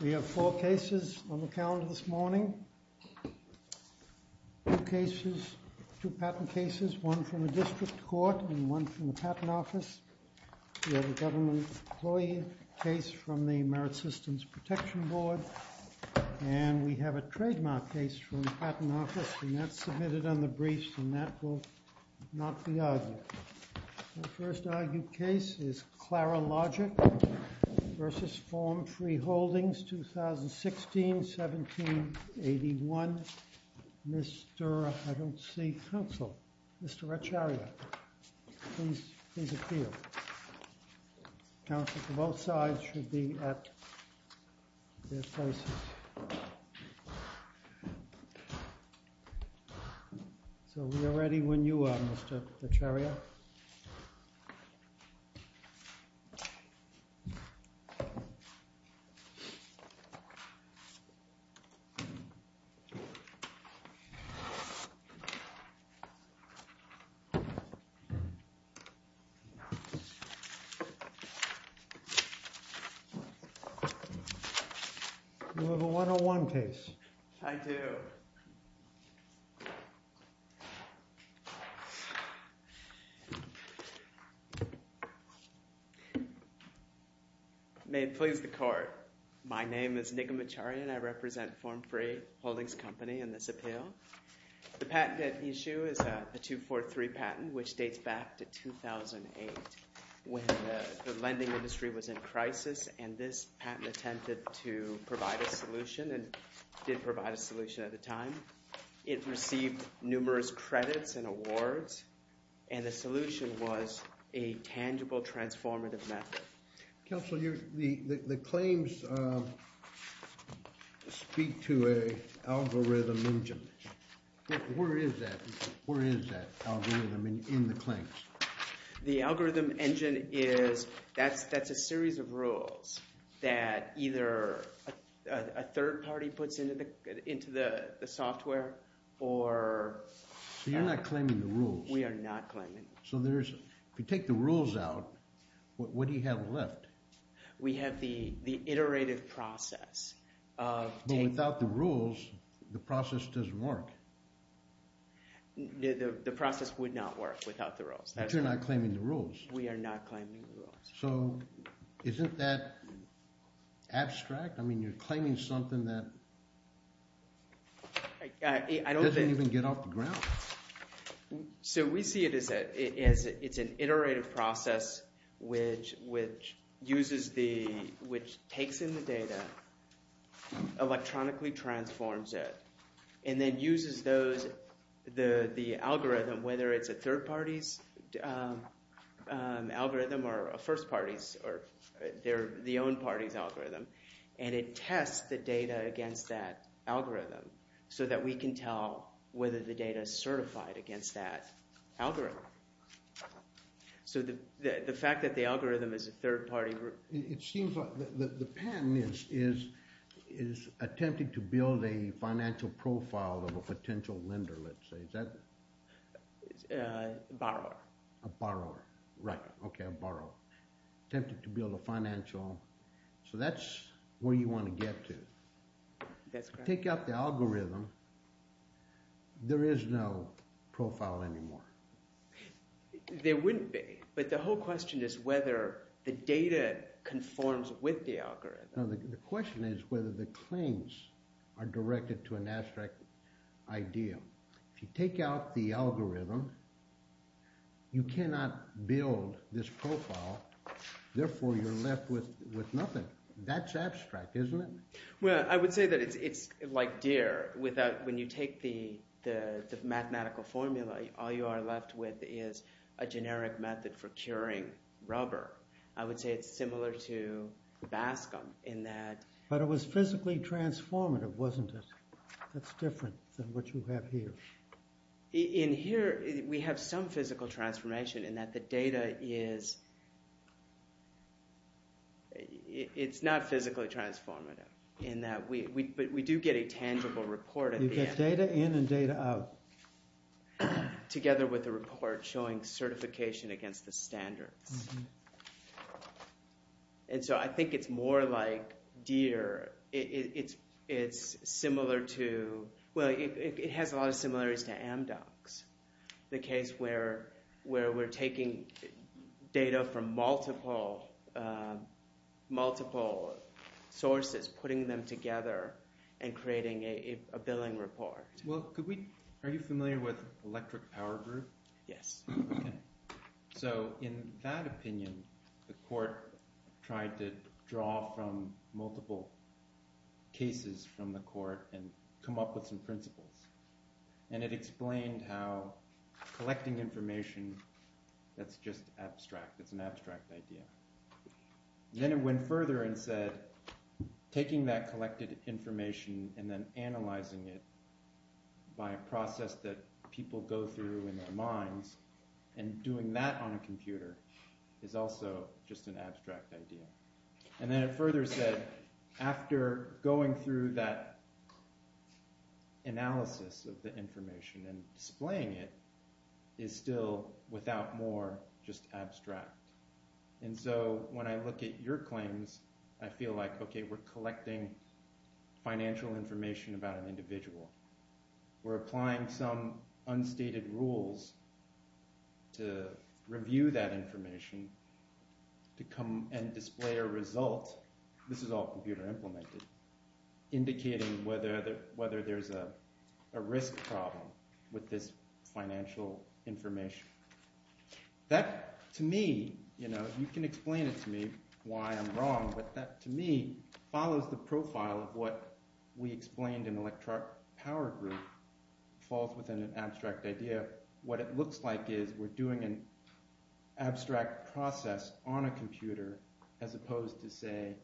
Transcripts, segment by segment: We have four cases on the calendar this morning. Two patent cases, one from the district court and one from the patent office. We have a government employee case from the Merit Systems Protection Board and we have a trademark case from the patent office and that's submitted on the briefs and that will not be argued. The first argued case is Clarilogic v. FormFree Holdings Corporation. So we are ready when you are, Mr. Vercheria. You have a 101 case. I do. May it please the court. My name is Nigam Vercheria and I represent FormFree Holdings Company in this appeal. The patent issue is a 243 patent which dates back to 2008 when the lending industry was in crisis and this patent attempted to provide a solution and it did provide a solution at the time. It received numerous credits and awards and the solution was a tangible transformative method. Counselor, the claims speak to an algorithm engine. Where is that algorithm in the claims? The algorithm engine is, that's a series of inputs into the software. So you're not claiming the rules. We are not claiming the rules. So if you take the rules out, what do you have left? We have the iterative process. But without the rules, the process doesn't work. The process would not work without the rules. But you're not claiming the rules. We are not claiming the rules. So isn't that doesn't even get off the ground. So we see it as it's an iterative process which uses the, which takes in the data, electronically transforms it, and then uses those, the algorithm, whether it's a third party's algorithm or a first party's or their, the own party's data against that algorithm so that we can tell whether the data is certified against that algorithm. So the fact that the algorithm is a third party group. It seems like the patent is attempting to build a financial profile of a potential lender, let's say. Is that? A borrower. A borrower, right. Okay, a borrower. Attempting to build a financial, so that's where you want to get to. That's correct. Take out the algorithm, there is no profile anymore. There wouldn't be, but the whole question is whether the data conforms with the algorithm. No, the question is whether the claims are directed to an abstract idea. If you take out the algorithm, you cannot build this profile, therefore you're left with nothing. That's abstract, isn't it? Well, I would say that it's, it's like deer without, when you take the, the mathematical formula, all you are left with is a generic method for curing rubber. I would say it's similar to Bascom in that. But it was physically transformative, wasn't it? That's different than what you have here. In here, we have some physical transformation in that the data is, it's not physically transformative in that we, but we do get a tangible report at the end. You get data in and data out. Together with the report showing certification against the standards. And so I think it's more like deer. It's, it's similar to, well, it has a lot of similarities to Amdocs. The case where, where we're taking data from multiple, multiple sources, putting them together and creating a billing report. Well, could we, are you familiar with electric power group? Yes. So in that opinion, the court tried to draw from multiple cases from the court and come up with some principles. And it explained how collecting information, that's just abstract. It's an abstract idea. Then it went further and said, taking that collected information and then analyzing it by a process that people go through in their minds and doing that on a computer is also just an abstract idea. And then it further said, after going through that analysis of the information and displaying it is still without more, just abstract. And so when I look at your claims, I feel like, okay, we're collecting financial information about an individual. We're applying some unstated rules to review that information to come and display a result. This is all computer implemented, indicating whether, whether there's a risk problem with this financial information. That to me, you know, you can explain it to me why I'm wrong, but that to me follows the profile of what we explained in electric power group falls within an abstract idea. What it looks like is we're doing an abstract process on a computer as opposed to say,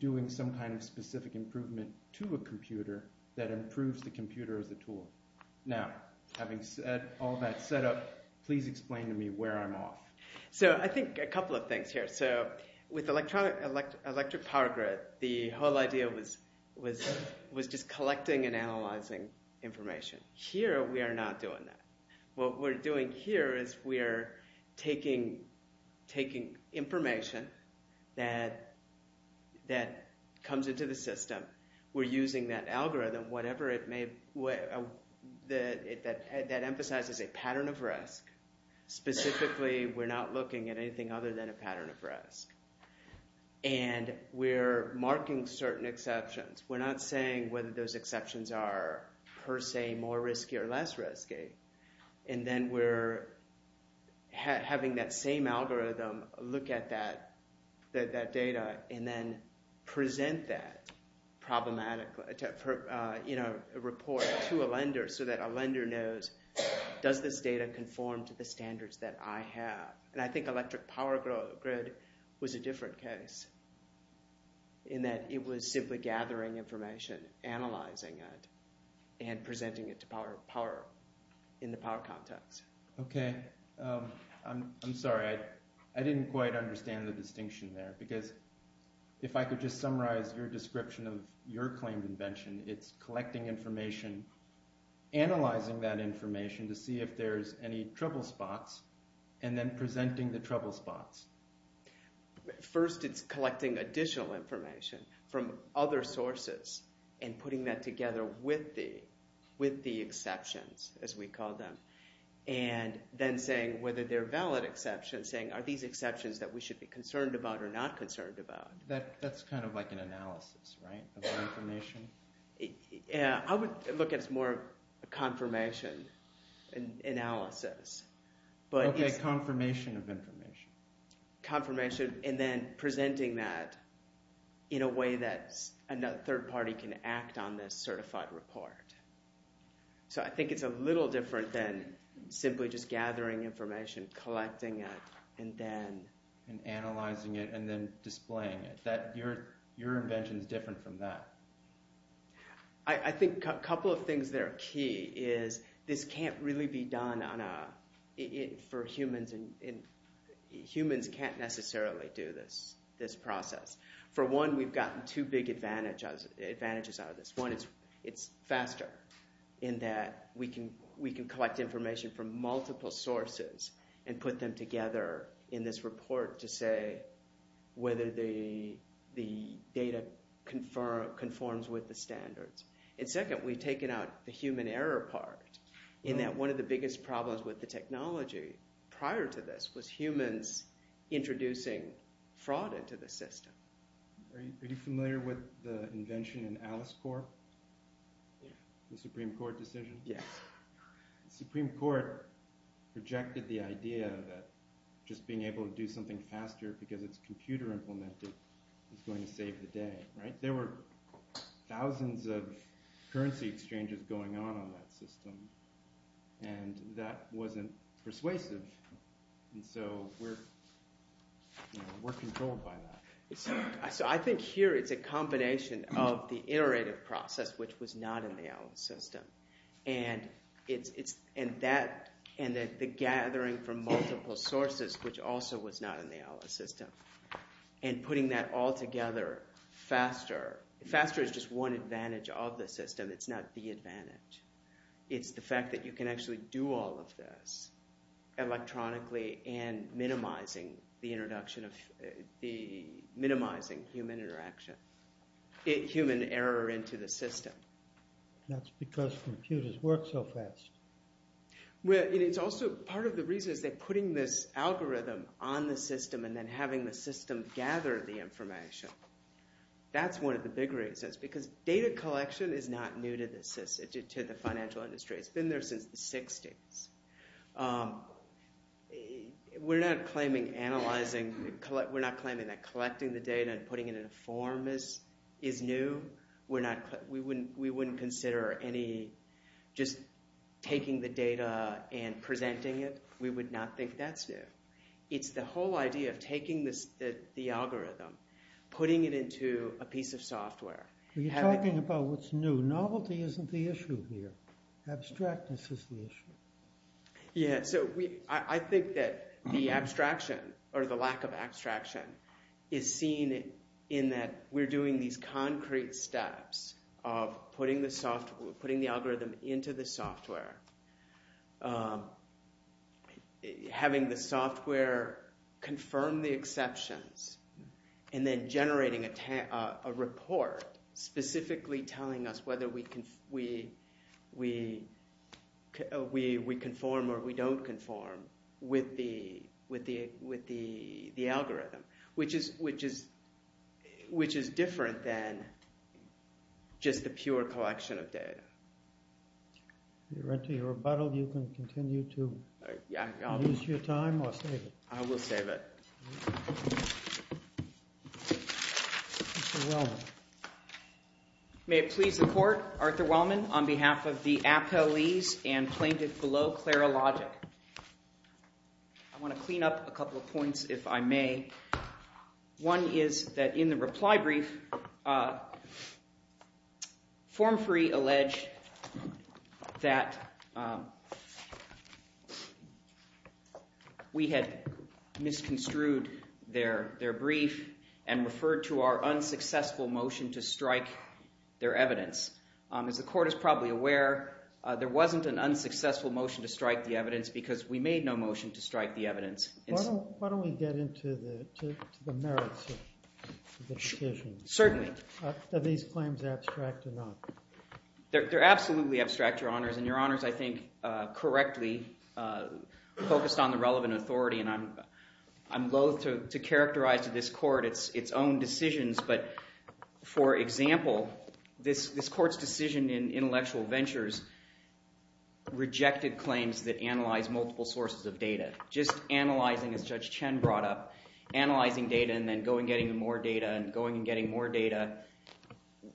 doing some kind of specific improvement to a computer that improves the computer as a tool. Now, having said all that setup, please explain to me where I'm off. So I think a couple of things here. So with electric power grid, the whole idea was just collecting and analyzing information. Here we are not doing that. What we're doing here is we are taking information that comes into the system. We're using that algorithm, whatever it may, that emphasizes a pattern of risk. Specifically, we're not looking at anything other than a pattern of risk. And we're marking certain exceptions. We're not saying whether those exceptions are per se more risky or less risky. And then we're having that same algorithm look at that data and then present that problematic, you know, report to a lender so that a lender knows, does this data conform to the standards that I have? And I think analyzing it and presenting it to power in the power context. Okay. I'm sorry. I didn't quite understand the distinction there because if I could just summarize your description of your claimed invention, it's collecting information, analyzing that information to see if there's any trouble spots, and then presenting the trouble spots. First, it's collecting additional information from other sources and putting that together with the exceptions, as we call them, and then saying whether they're valid exceptions, saying are these exceptions that we should be concerned about or not concerned about? That's kind of like an analysis, right, of information? Yeah. I would look at it as more confirmation analysis. Okay. Confirmation of information. Confirmation, and then presenting that in a way that a third party can act on this certified report. So I think it's a little different than simply just gathering information, collecting it, and then... And analyzing it, and then displaying it. Your invention's different from that. I think a couple of things that are key is this can't really be done for humans. Humans can't necessarily do this process. For one, we've gotten two big advantages out of this. One is it's faster in that we can collect information from multiple sources and put them together in this report to say whether the data conforms with the standards. And second, we've taken out the human error part in that one of the biggest problems with the technology prior to this was humans introducing fraud into the system. Are you familiar with the invention in AliceCorp? Yeah. The Supreme Court decision? Yes. The Supreme Court rejected the idea that just being able to do something faster because it's computer implemented is going to save the day, right? There were thousands of currency exchanges going on on that system, and that wasn't persuasive. And so we're controlled by that. So I think here it's a combination of the iterative process, which was not in the Alice system, and the gathering from multiple sources, which also was not in the Alice system, and putting that all together faster. Faster is just one advantage of the system. It's not the advantage. It's the fact that you can actually do all of this electronically and minimizing human interaction, human error into the system. That's because computers work so fast. Well, and it's also part of the reason is that putting this algorithm on the system and then having the system gather the information, that's one of the big reasons. Because data collection is not new to the financial industry. It's been there since the 60s. We're not claiming that collecting the data and putting it in a form is new. We wouldn't consider any just taking the data and presenting it. We would not think that's new. It's the whole idea of taking the algorithm, putting it into a piece of software. You're talking about what's new. Novelty isn't the issue here. Abstractness is the issue. Yeah, so I think that the abstraction or the lack of abstraction is seen in that we're doing these concrete steps of putting the algorithm into the software, having the software confirm the exceptions, and then generating a report specifically telling us whether we conform or we don't conform with the algorithm, which is different than just the pure collection of data. We're into your rebuttal. You can continue to use your time or save it. I will save it. Arthur Wellman. May it please the court, Arthur Wellman on behalf of the appellees and plaintiff below Clara Logic. I want to clean up a couple of points if I may. One is that in the reply brief, form free alleged that we had misconstrued their brief and referred to our unsuccessful motion to strike their evidence. As the court is probably aware, there wasn't an unsuccessful motion to strike the evidence because we made no motion to strike the evidence. Why don't we get into the merits of the decision? Certainly. Are these claims abstract or not? They're absolutely abstract, your honors. And your honors, I think, correctly focused on the relevant authority. And I'm loathe to characterize to this court its own decisions. But for example, this court's decision in Intellectual Ventures rejected claims that are analyzing, as Judge Chen brought up, analyzing data and then going and getting more data and going and getting more data.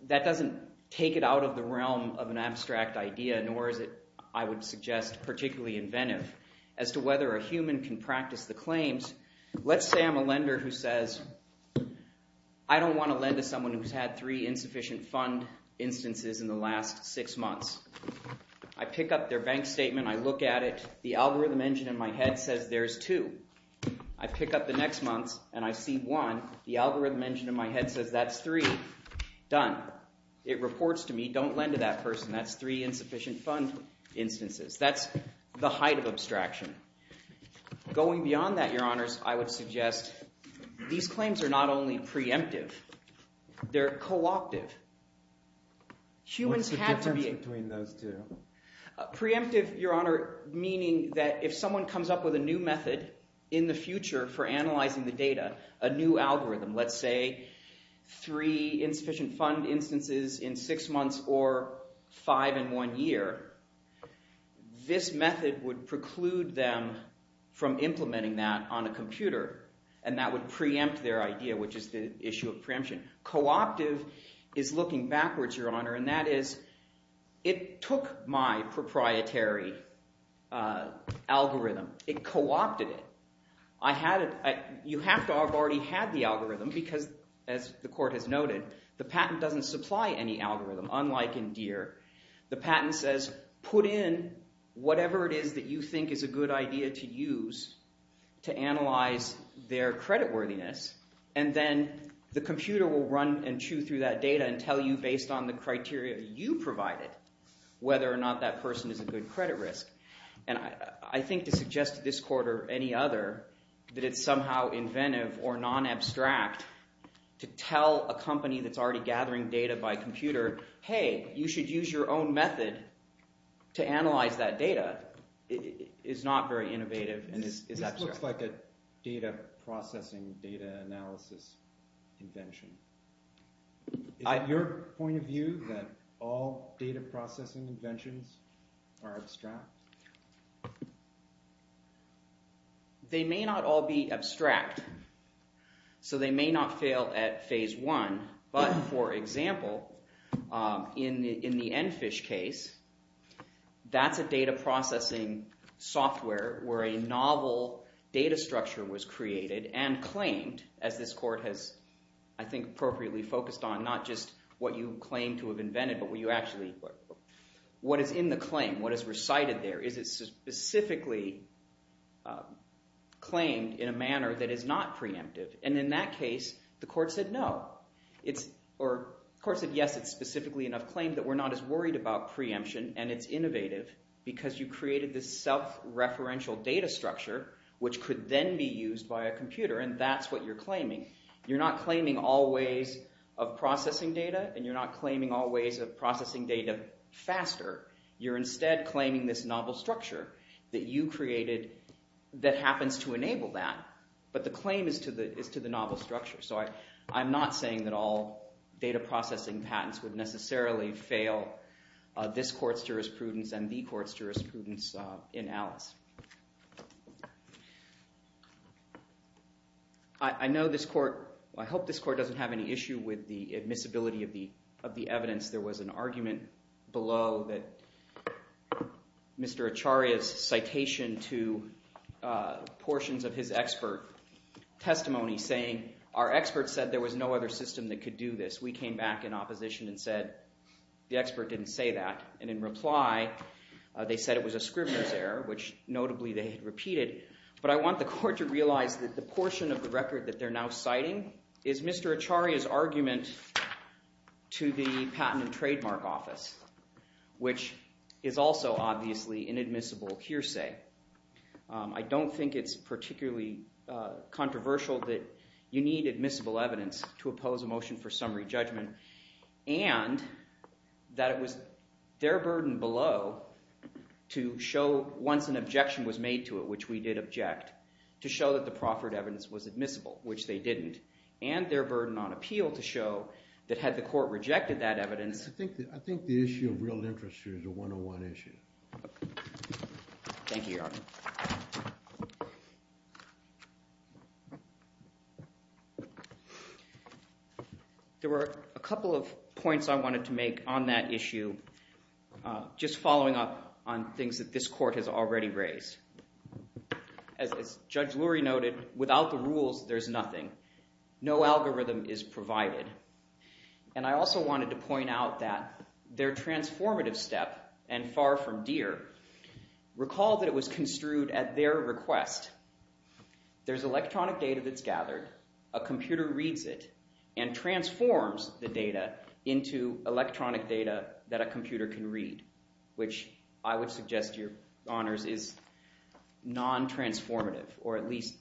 That doesn't take it out of the realm of an abstract idea, nor is it, I would suggest, particularly inventive as to whether a human can practice the claims. Let's say I'm a lender who says, I don't want to lend to someone who's had three insufficient fund instances in the last six months. I pick up their bank statement. I look at it. The algorithm engine in my head says there's two. I pick up the next month and I see one. The algorithm engine in my head says that's three. Done. It reports to me, don't lend to that person. That's three insufficient fund instances. That's the height of abstraction. Going beyond that, your honors, I would suggest these claims are not only preemptive. They're co-optive. Humans have to be What's the difference between those two? Preemptive, your honor, meaning that if someone comes up with a new method in the future for analyzing the data, a new algorithm, let's say three insufficient fund instances in six months or five in one year, this method would preclude them from implementing that on a computer and that would preempt their idea, which is the issue of preemption. Co-optive is looking backwards, your honor, and that is it took my proprietary algorithm. It co-opted it. You have to have already had the algorithm because, as the court has noted, the patent doesn't supply any algorithm, unlike in Deere. The patent says put in whatever it is that you think is a good idea to use to analyze their creditworthiness and then the computer will run and chew through that data and tell you, based on the criteria you provided, whether or not that person is a good credit risk. I think to suggest to this court or any other that it's somehow inventive or non-abstract to tell a company that's already gathering data by computer, hey, you should use your own method to analyze that data is not very innovative and is abstract. It looks like a data processing, data analysis invention. Is it your point of view that all data processing inventions are abstract? They may not all be abstract, so they may not fail at phase one, but, for example, in the Enfish case, that's a data processing software where a novel data structure was created and claimed, as this court has, I think, appropriately focused on, not just what you claim to have invented, but what is in the claim, what is recited there. Is it specifically claimed in a manner that is not preemptive? In that case, the court said no. The court said yes, it's specifically in a claim that we're not as worried about preemption, and it's innovative because you created this self-referential data structure, which could then be used by a computer, and that's what you're claiming. You're not claiming all ways of processing data, and you're not claiming all ways of processing data faster. You're instead claiming this novel structure that you created that happens to enable that, but the claim is to the novel structure, so I'm not saying that all data processing patents would necessarily fail this court's jurisprudence and the court's jurisprudence in Alice. I hope this court doesn't have any issue with the admissibility of the evidence. There was an argument below that Mr. Acharya's citation to portions of his expert testimony saying, our expert said there was no other system that could do this. We came back in opposition and said the expert didn't say that, and in reply, they said it was a scrivener's error, which notably they had repeated, but I want the court to realize that the portion of the record that they're now citing is Mr. Acharya's argument to the Patent and Trademark Office, which is also obviously an admissible hearsay. I don't think it's particularly controversial that you need admissible evidence to oppose a motion for summary judgment, and that it was their burden below to show once an objection was made to it, which we did reject, to show that the proffered evidence was admissible, which they didn't, and their burden on appeal to show that had the court rejected that evidence. I think the issue of real interest here is a one-on-one issue. Thank you, Your Honor. There were a couple of points I wanted to make on that issue, just following up on things that this court has already raised. As Judge Lurie noted, without the rules, there's nothing. No algorithm is provided, and I also wanted to point out that their transformative step, and far from dear, recall that it was construed at their request. There's electronic data that's gathered. A computer reads it and transforms the data into electronic data that a computer can read, which I would suggest, Your Honors, is non-transformative, or at least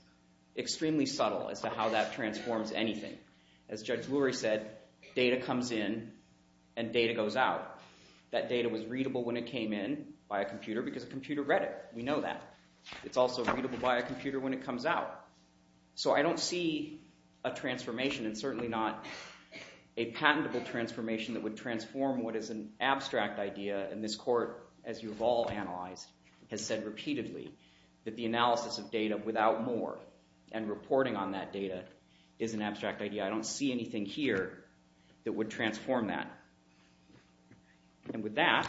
extremely subtle as to how that transforms anything. As Judge Lurie said, data comes in and data goes out. That data was readable when it came in by a computer because a computer read it. We know that. It's also readable by a computer when it comes out. So I don't see a transformation, and certainly not a patentable transformation that would be an abstract idea, and this court, as you have all analyzed, has said repeatedly that the analysis of data without more and reporting on that data is an abstract idea. I don't see anything here that would transform that. And with that,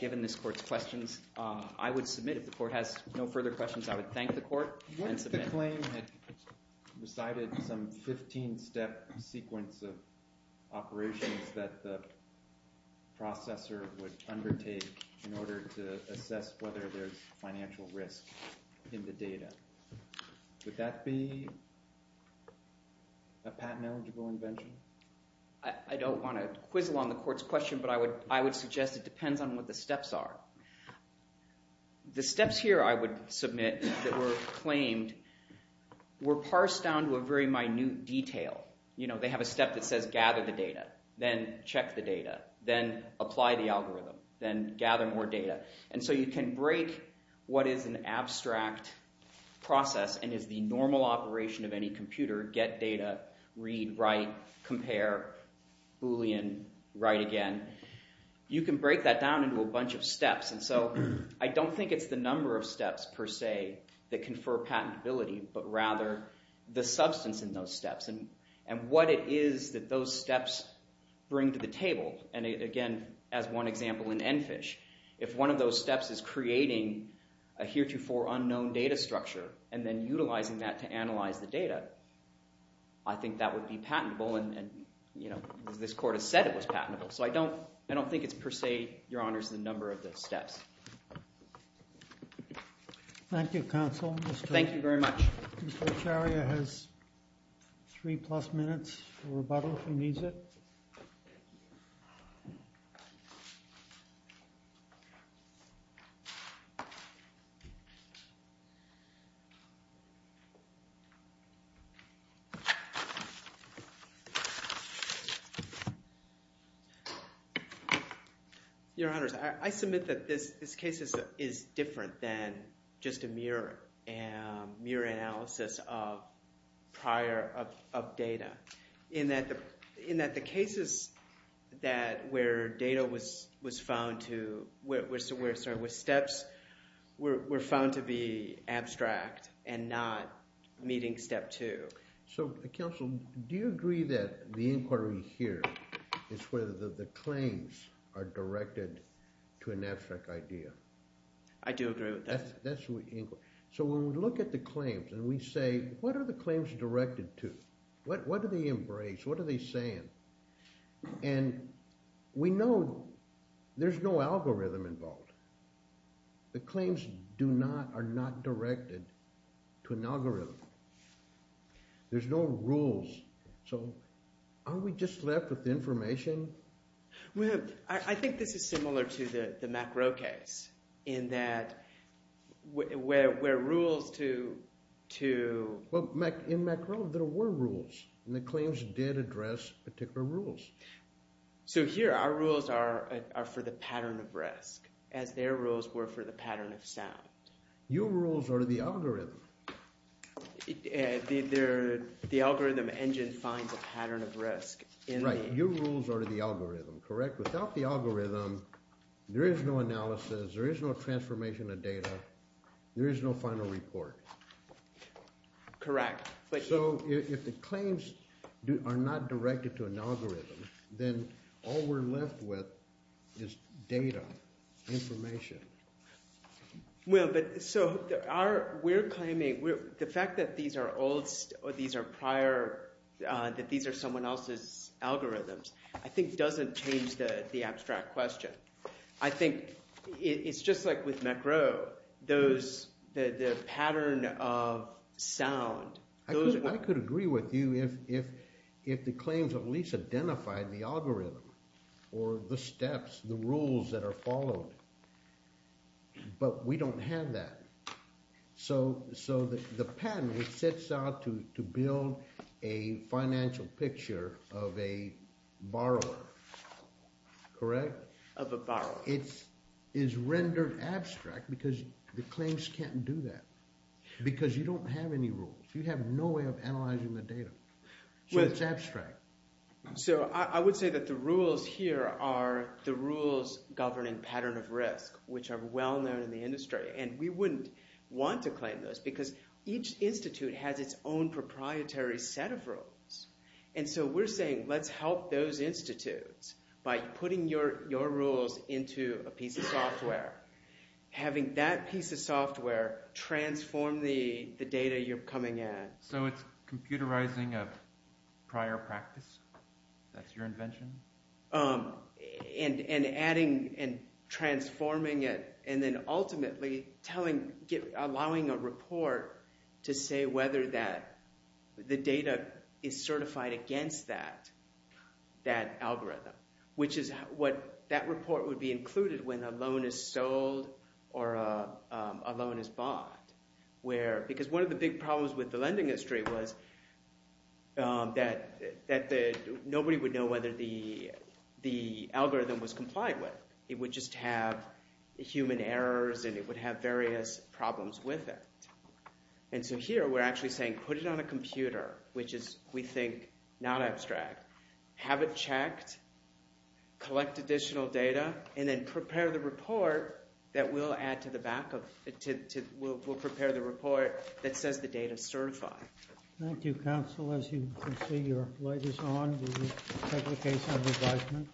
given this court's questions, I would submit, if the court has no further questions, I would thank the court and submit. The claim had decided some 15-step sequence of operations that the processor would undertake in order to assess whether there's financial risk in the data. Would that be a patent-eligible invention? I don't want to quizzle on the court's question, but I would suggest it depends on what the steps are. The steps here I would submit that were claimed were parsed down to a very minute detail. They have a step that says gather the data, then check the data, then apply the algorithm, then gather more data. And so you can break what is an abstract process and is the normal operation of any computer, get data, read, write, compare, Boolean, write again. You can break that down into a bunch of steps. And so I don't think it's the number of steps, per se, that confer patentability, but rather the substance in those steps and what it is that those steps bring to the table. And again, as one example in EnFISH, if one of those steps is creating a heretofore unknown data structure and then utilizing that to analyze the data, I think that would be patentable. And this court has said it was patentable. So I don't think it's per se, Your Honors, the number of the steps. Thank you, Counsel. Thank you very much. Mr. Echaria has three plus minutes for rebuttal if he needs it. Your Honors, I submit that this case is different than just a mere analysis of prior of data in that the cases where data was found to, sorry, where steps were found to be abstract and not meeting step two. So Counsel, do you agree that the inquiry here is where the claims are directed to an abstract idea? I do agree with that. So when we look at the claims and we say, what are the claims directed to? What do they embrace? What are they saying? And we know there's no algorithm involved. The claims do not, are not directed to an algorithm. There's no rules. So are we just left with information? Well, I think this is similar to the Macro case in that where rules to... Well, in Macro, there were rules and the claims did address particular rules. So here, our rules are for the pattern of risk, as their rules were for the pattern of sound. Your rules are the algorithm. The algorithm engine finds a pattern of risk in the... Right. Your rules are to the algorithm, correct? Without the algorithm, there is no analysis, there is no transformation of data, there is no final report. Correct. So if the claims are not directed to an algorithm, then all we're left with is data, information. Well, but so we're claiming, the fact that these are old, these are prior, that these are someone else's algorithms, I think doesn't change the abstract question. I think it's just like with Macro, the pattern of sound... I could agree with you if the claims at least identified the algorithm or the steps, the rules that are followed, but we don't have that. So the pattern, it sets out to build a financial picture of a borrower, correct? Of a borrower. It is rendered abstract because the claims can't do that, because you don't have any rules. You have no way of analyzing the data. So it's abstract. So I would say that the rules here are the rules governing pattern of risk, which are well known in the industry, and we wouldn't want to claim those because each institute has its own proprietary set of rules. And so we're saying, let's help those institutes by putting your rules into a piece of software, having that piece of software transform the data you're coming at. So it's computerizing of prior practice? That's your invention? And adding and transforming it, and then ultimately allowing a report to say whether the data is certified against that algorithm, which is what that report would be included when a loan is sold or a loan is bought. Because one of the big problems with the lending industry was that nobody would know whether the algorithm was complied with. It would just have human errors, and it would have various problems with it. And so here, we're actually saying, put it on a computer, which is, we think, not abstract. Have it checked, collect additional data, and then prepare the report that we'll add to the backup. We'll prepare the report that says the data is certified. Thank you, counsel. As you can see, your light is on. Do you have a case under judgment?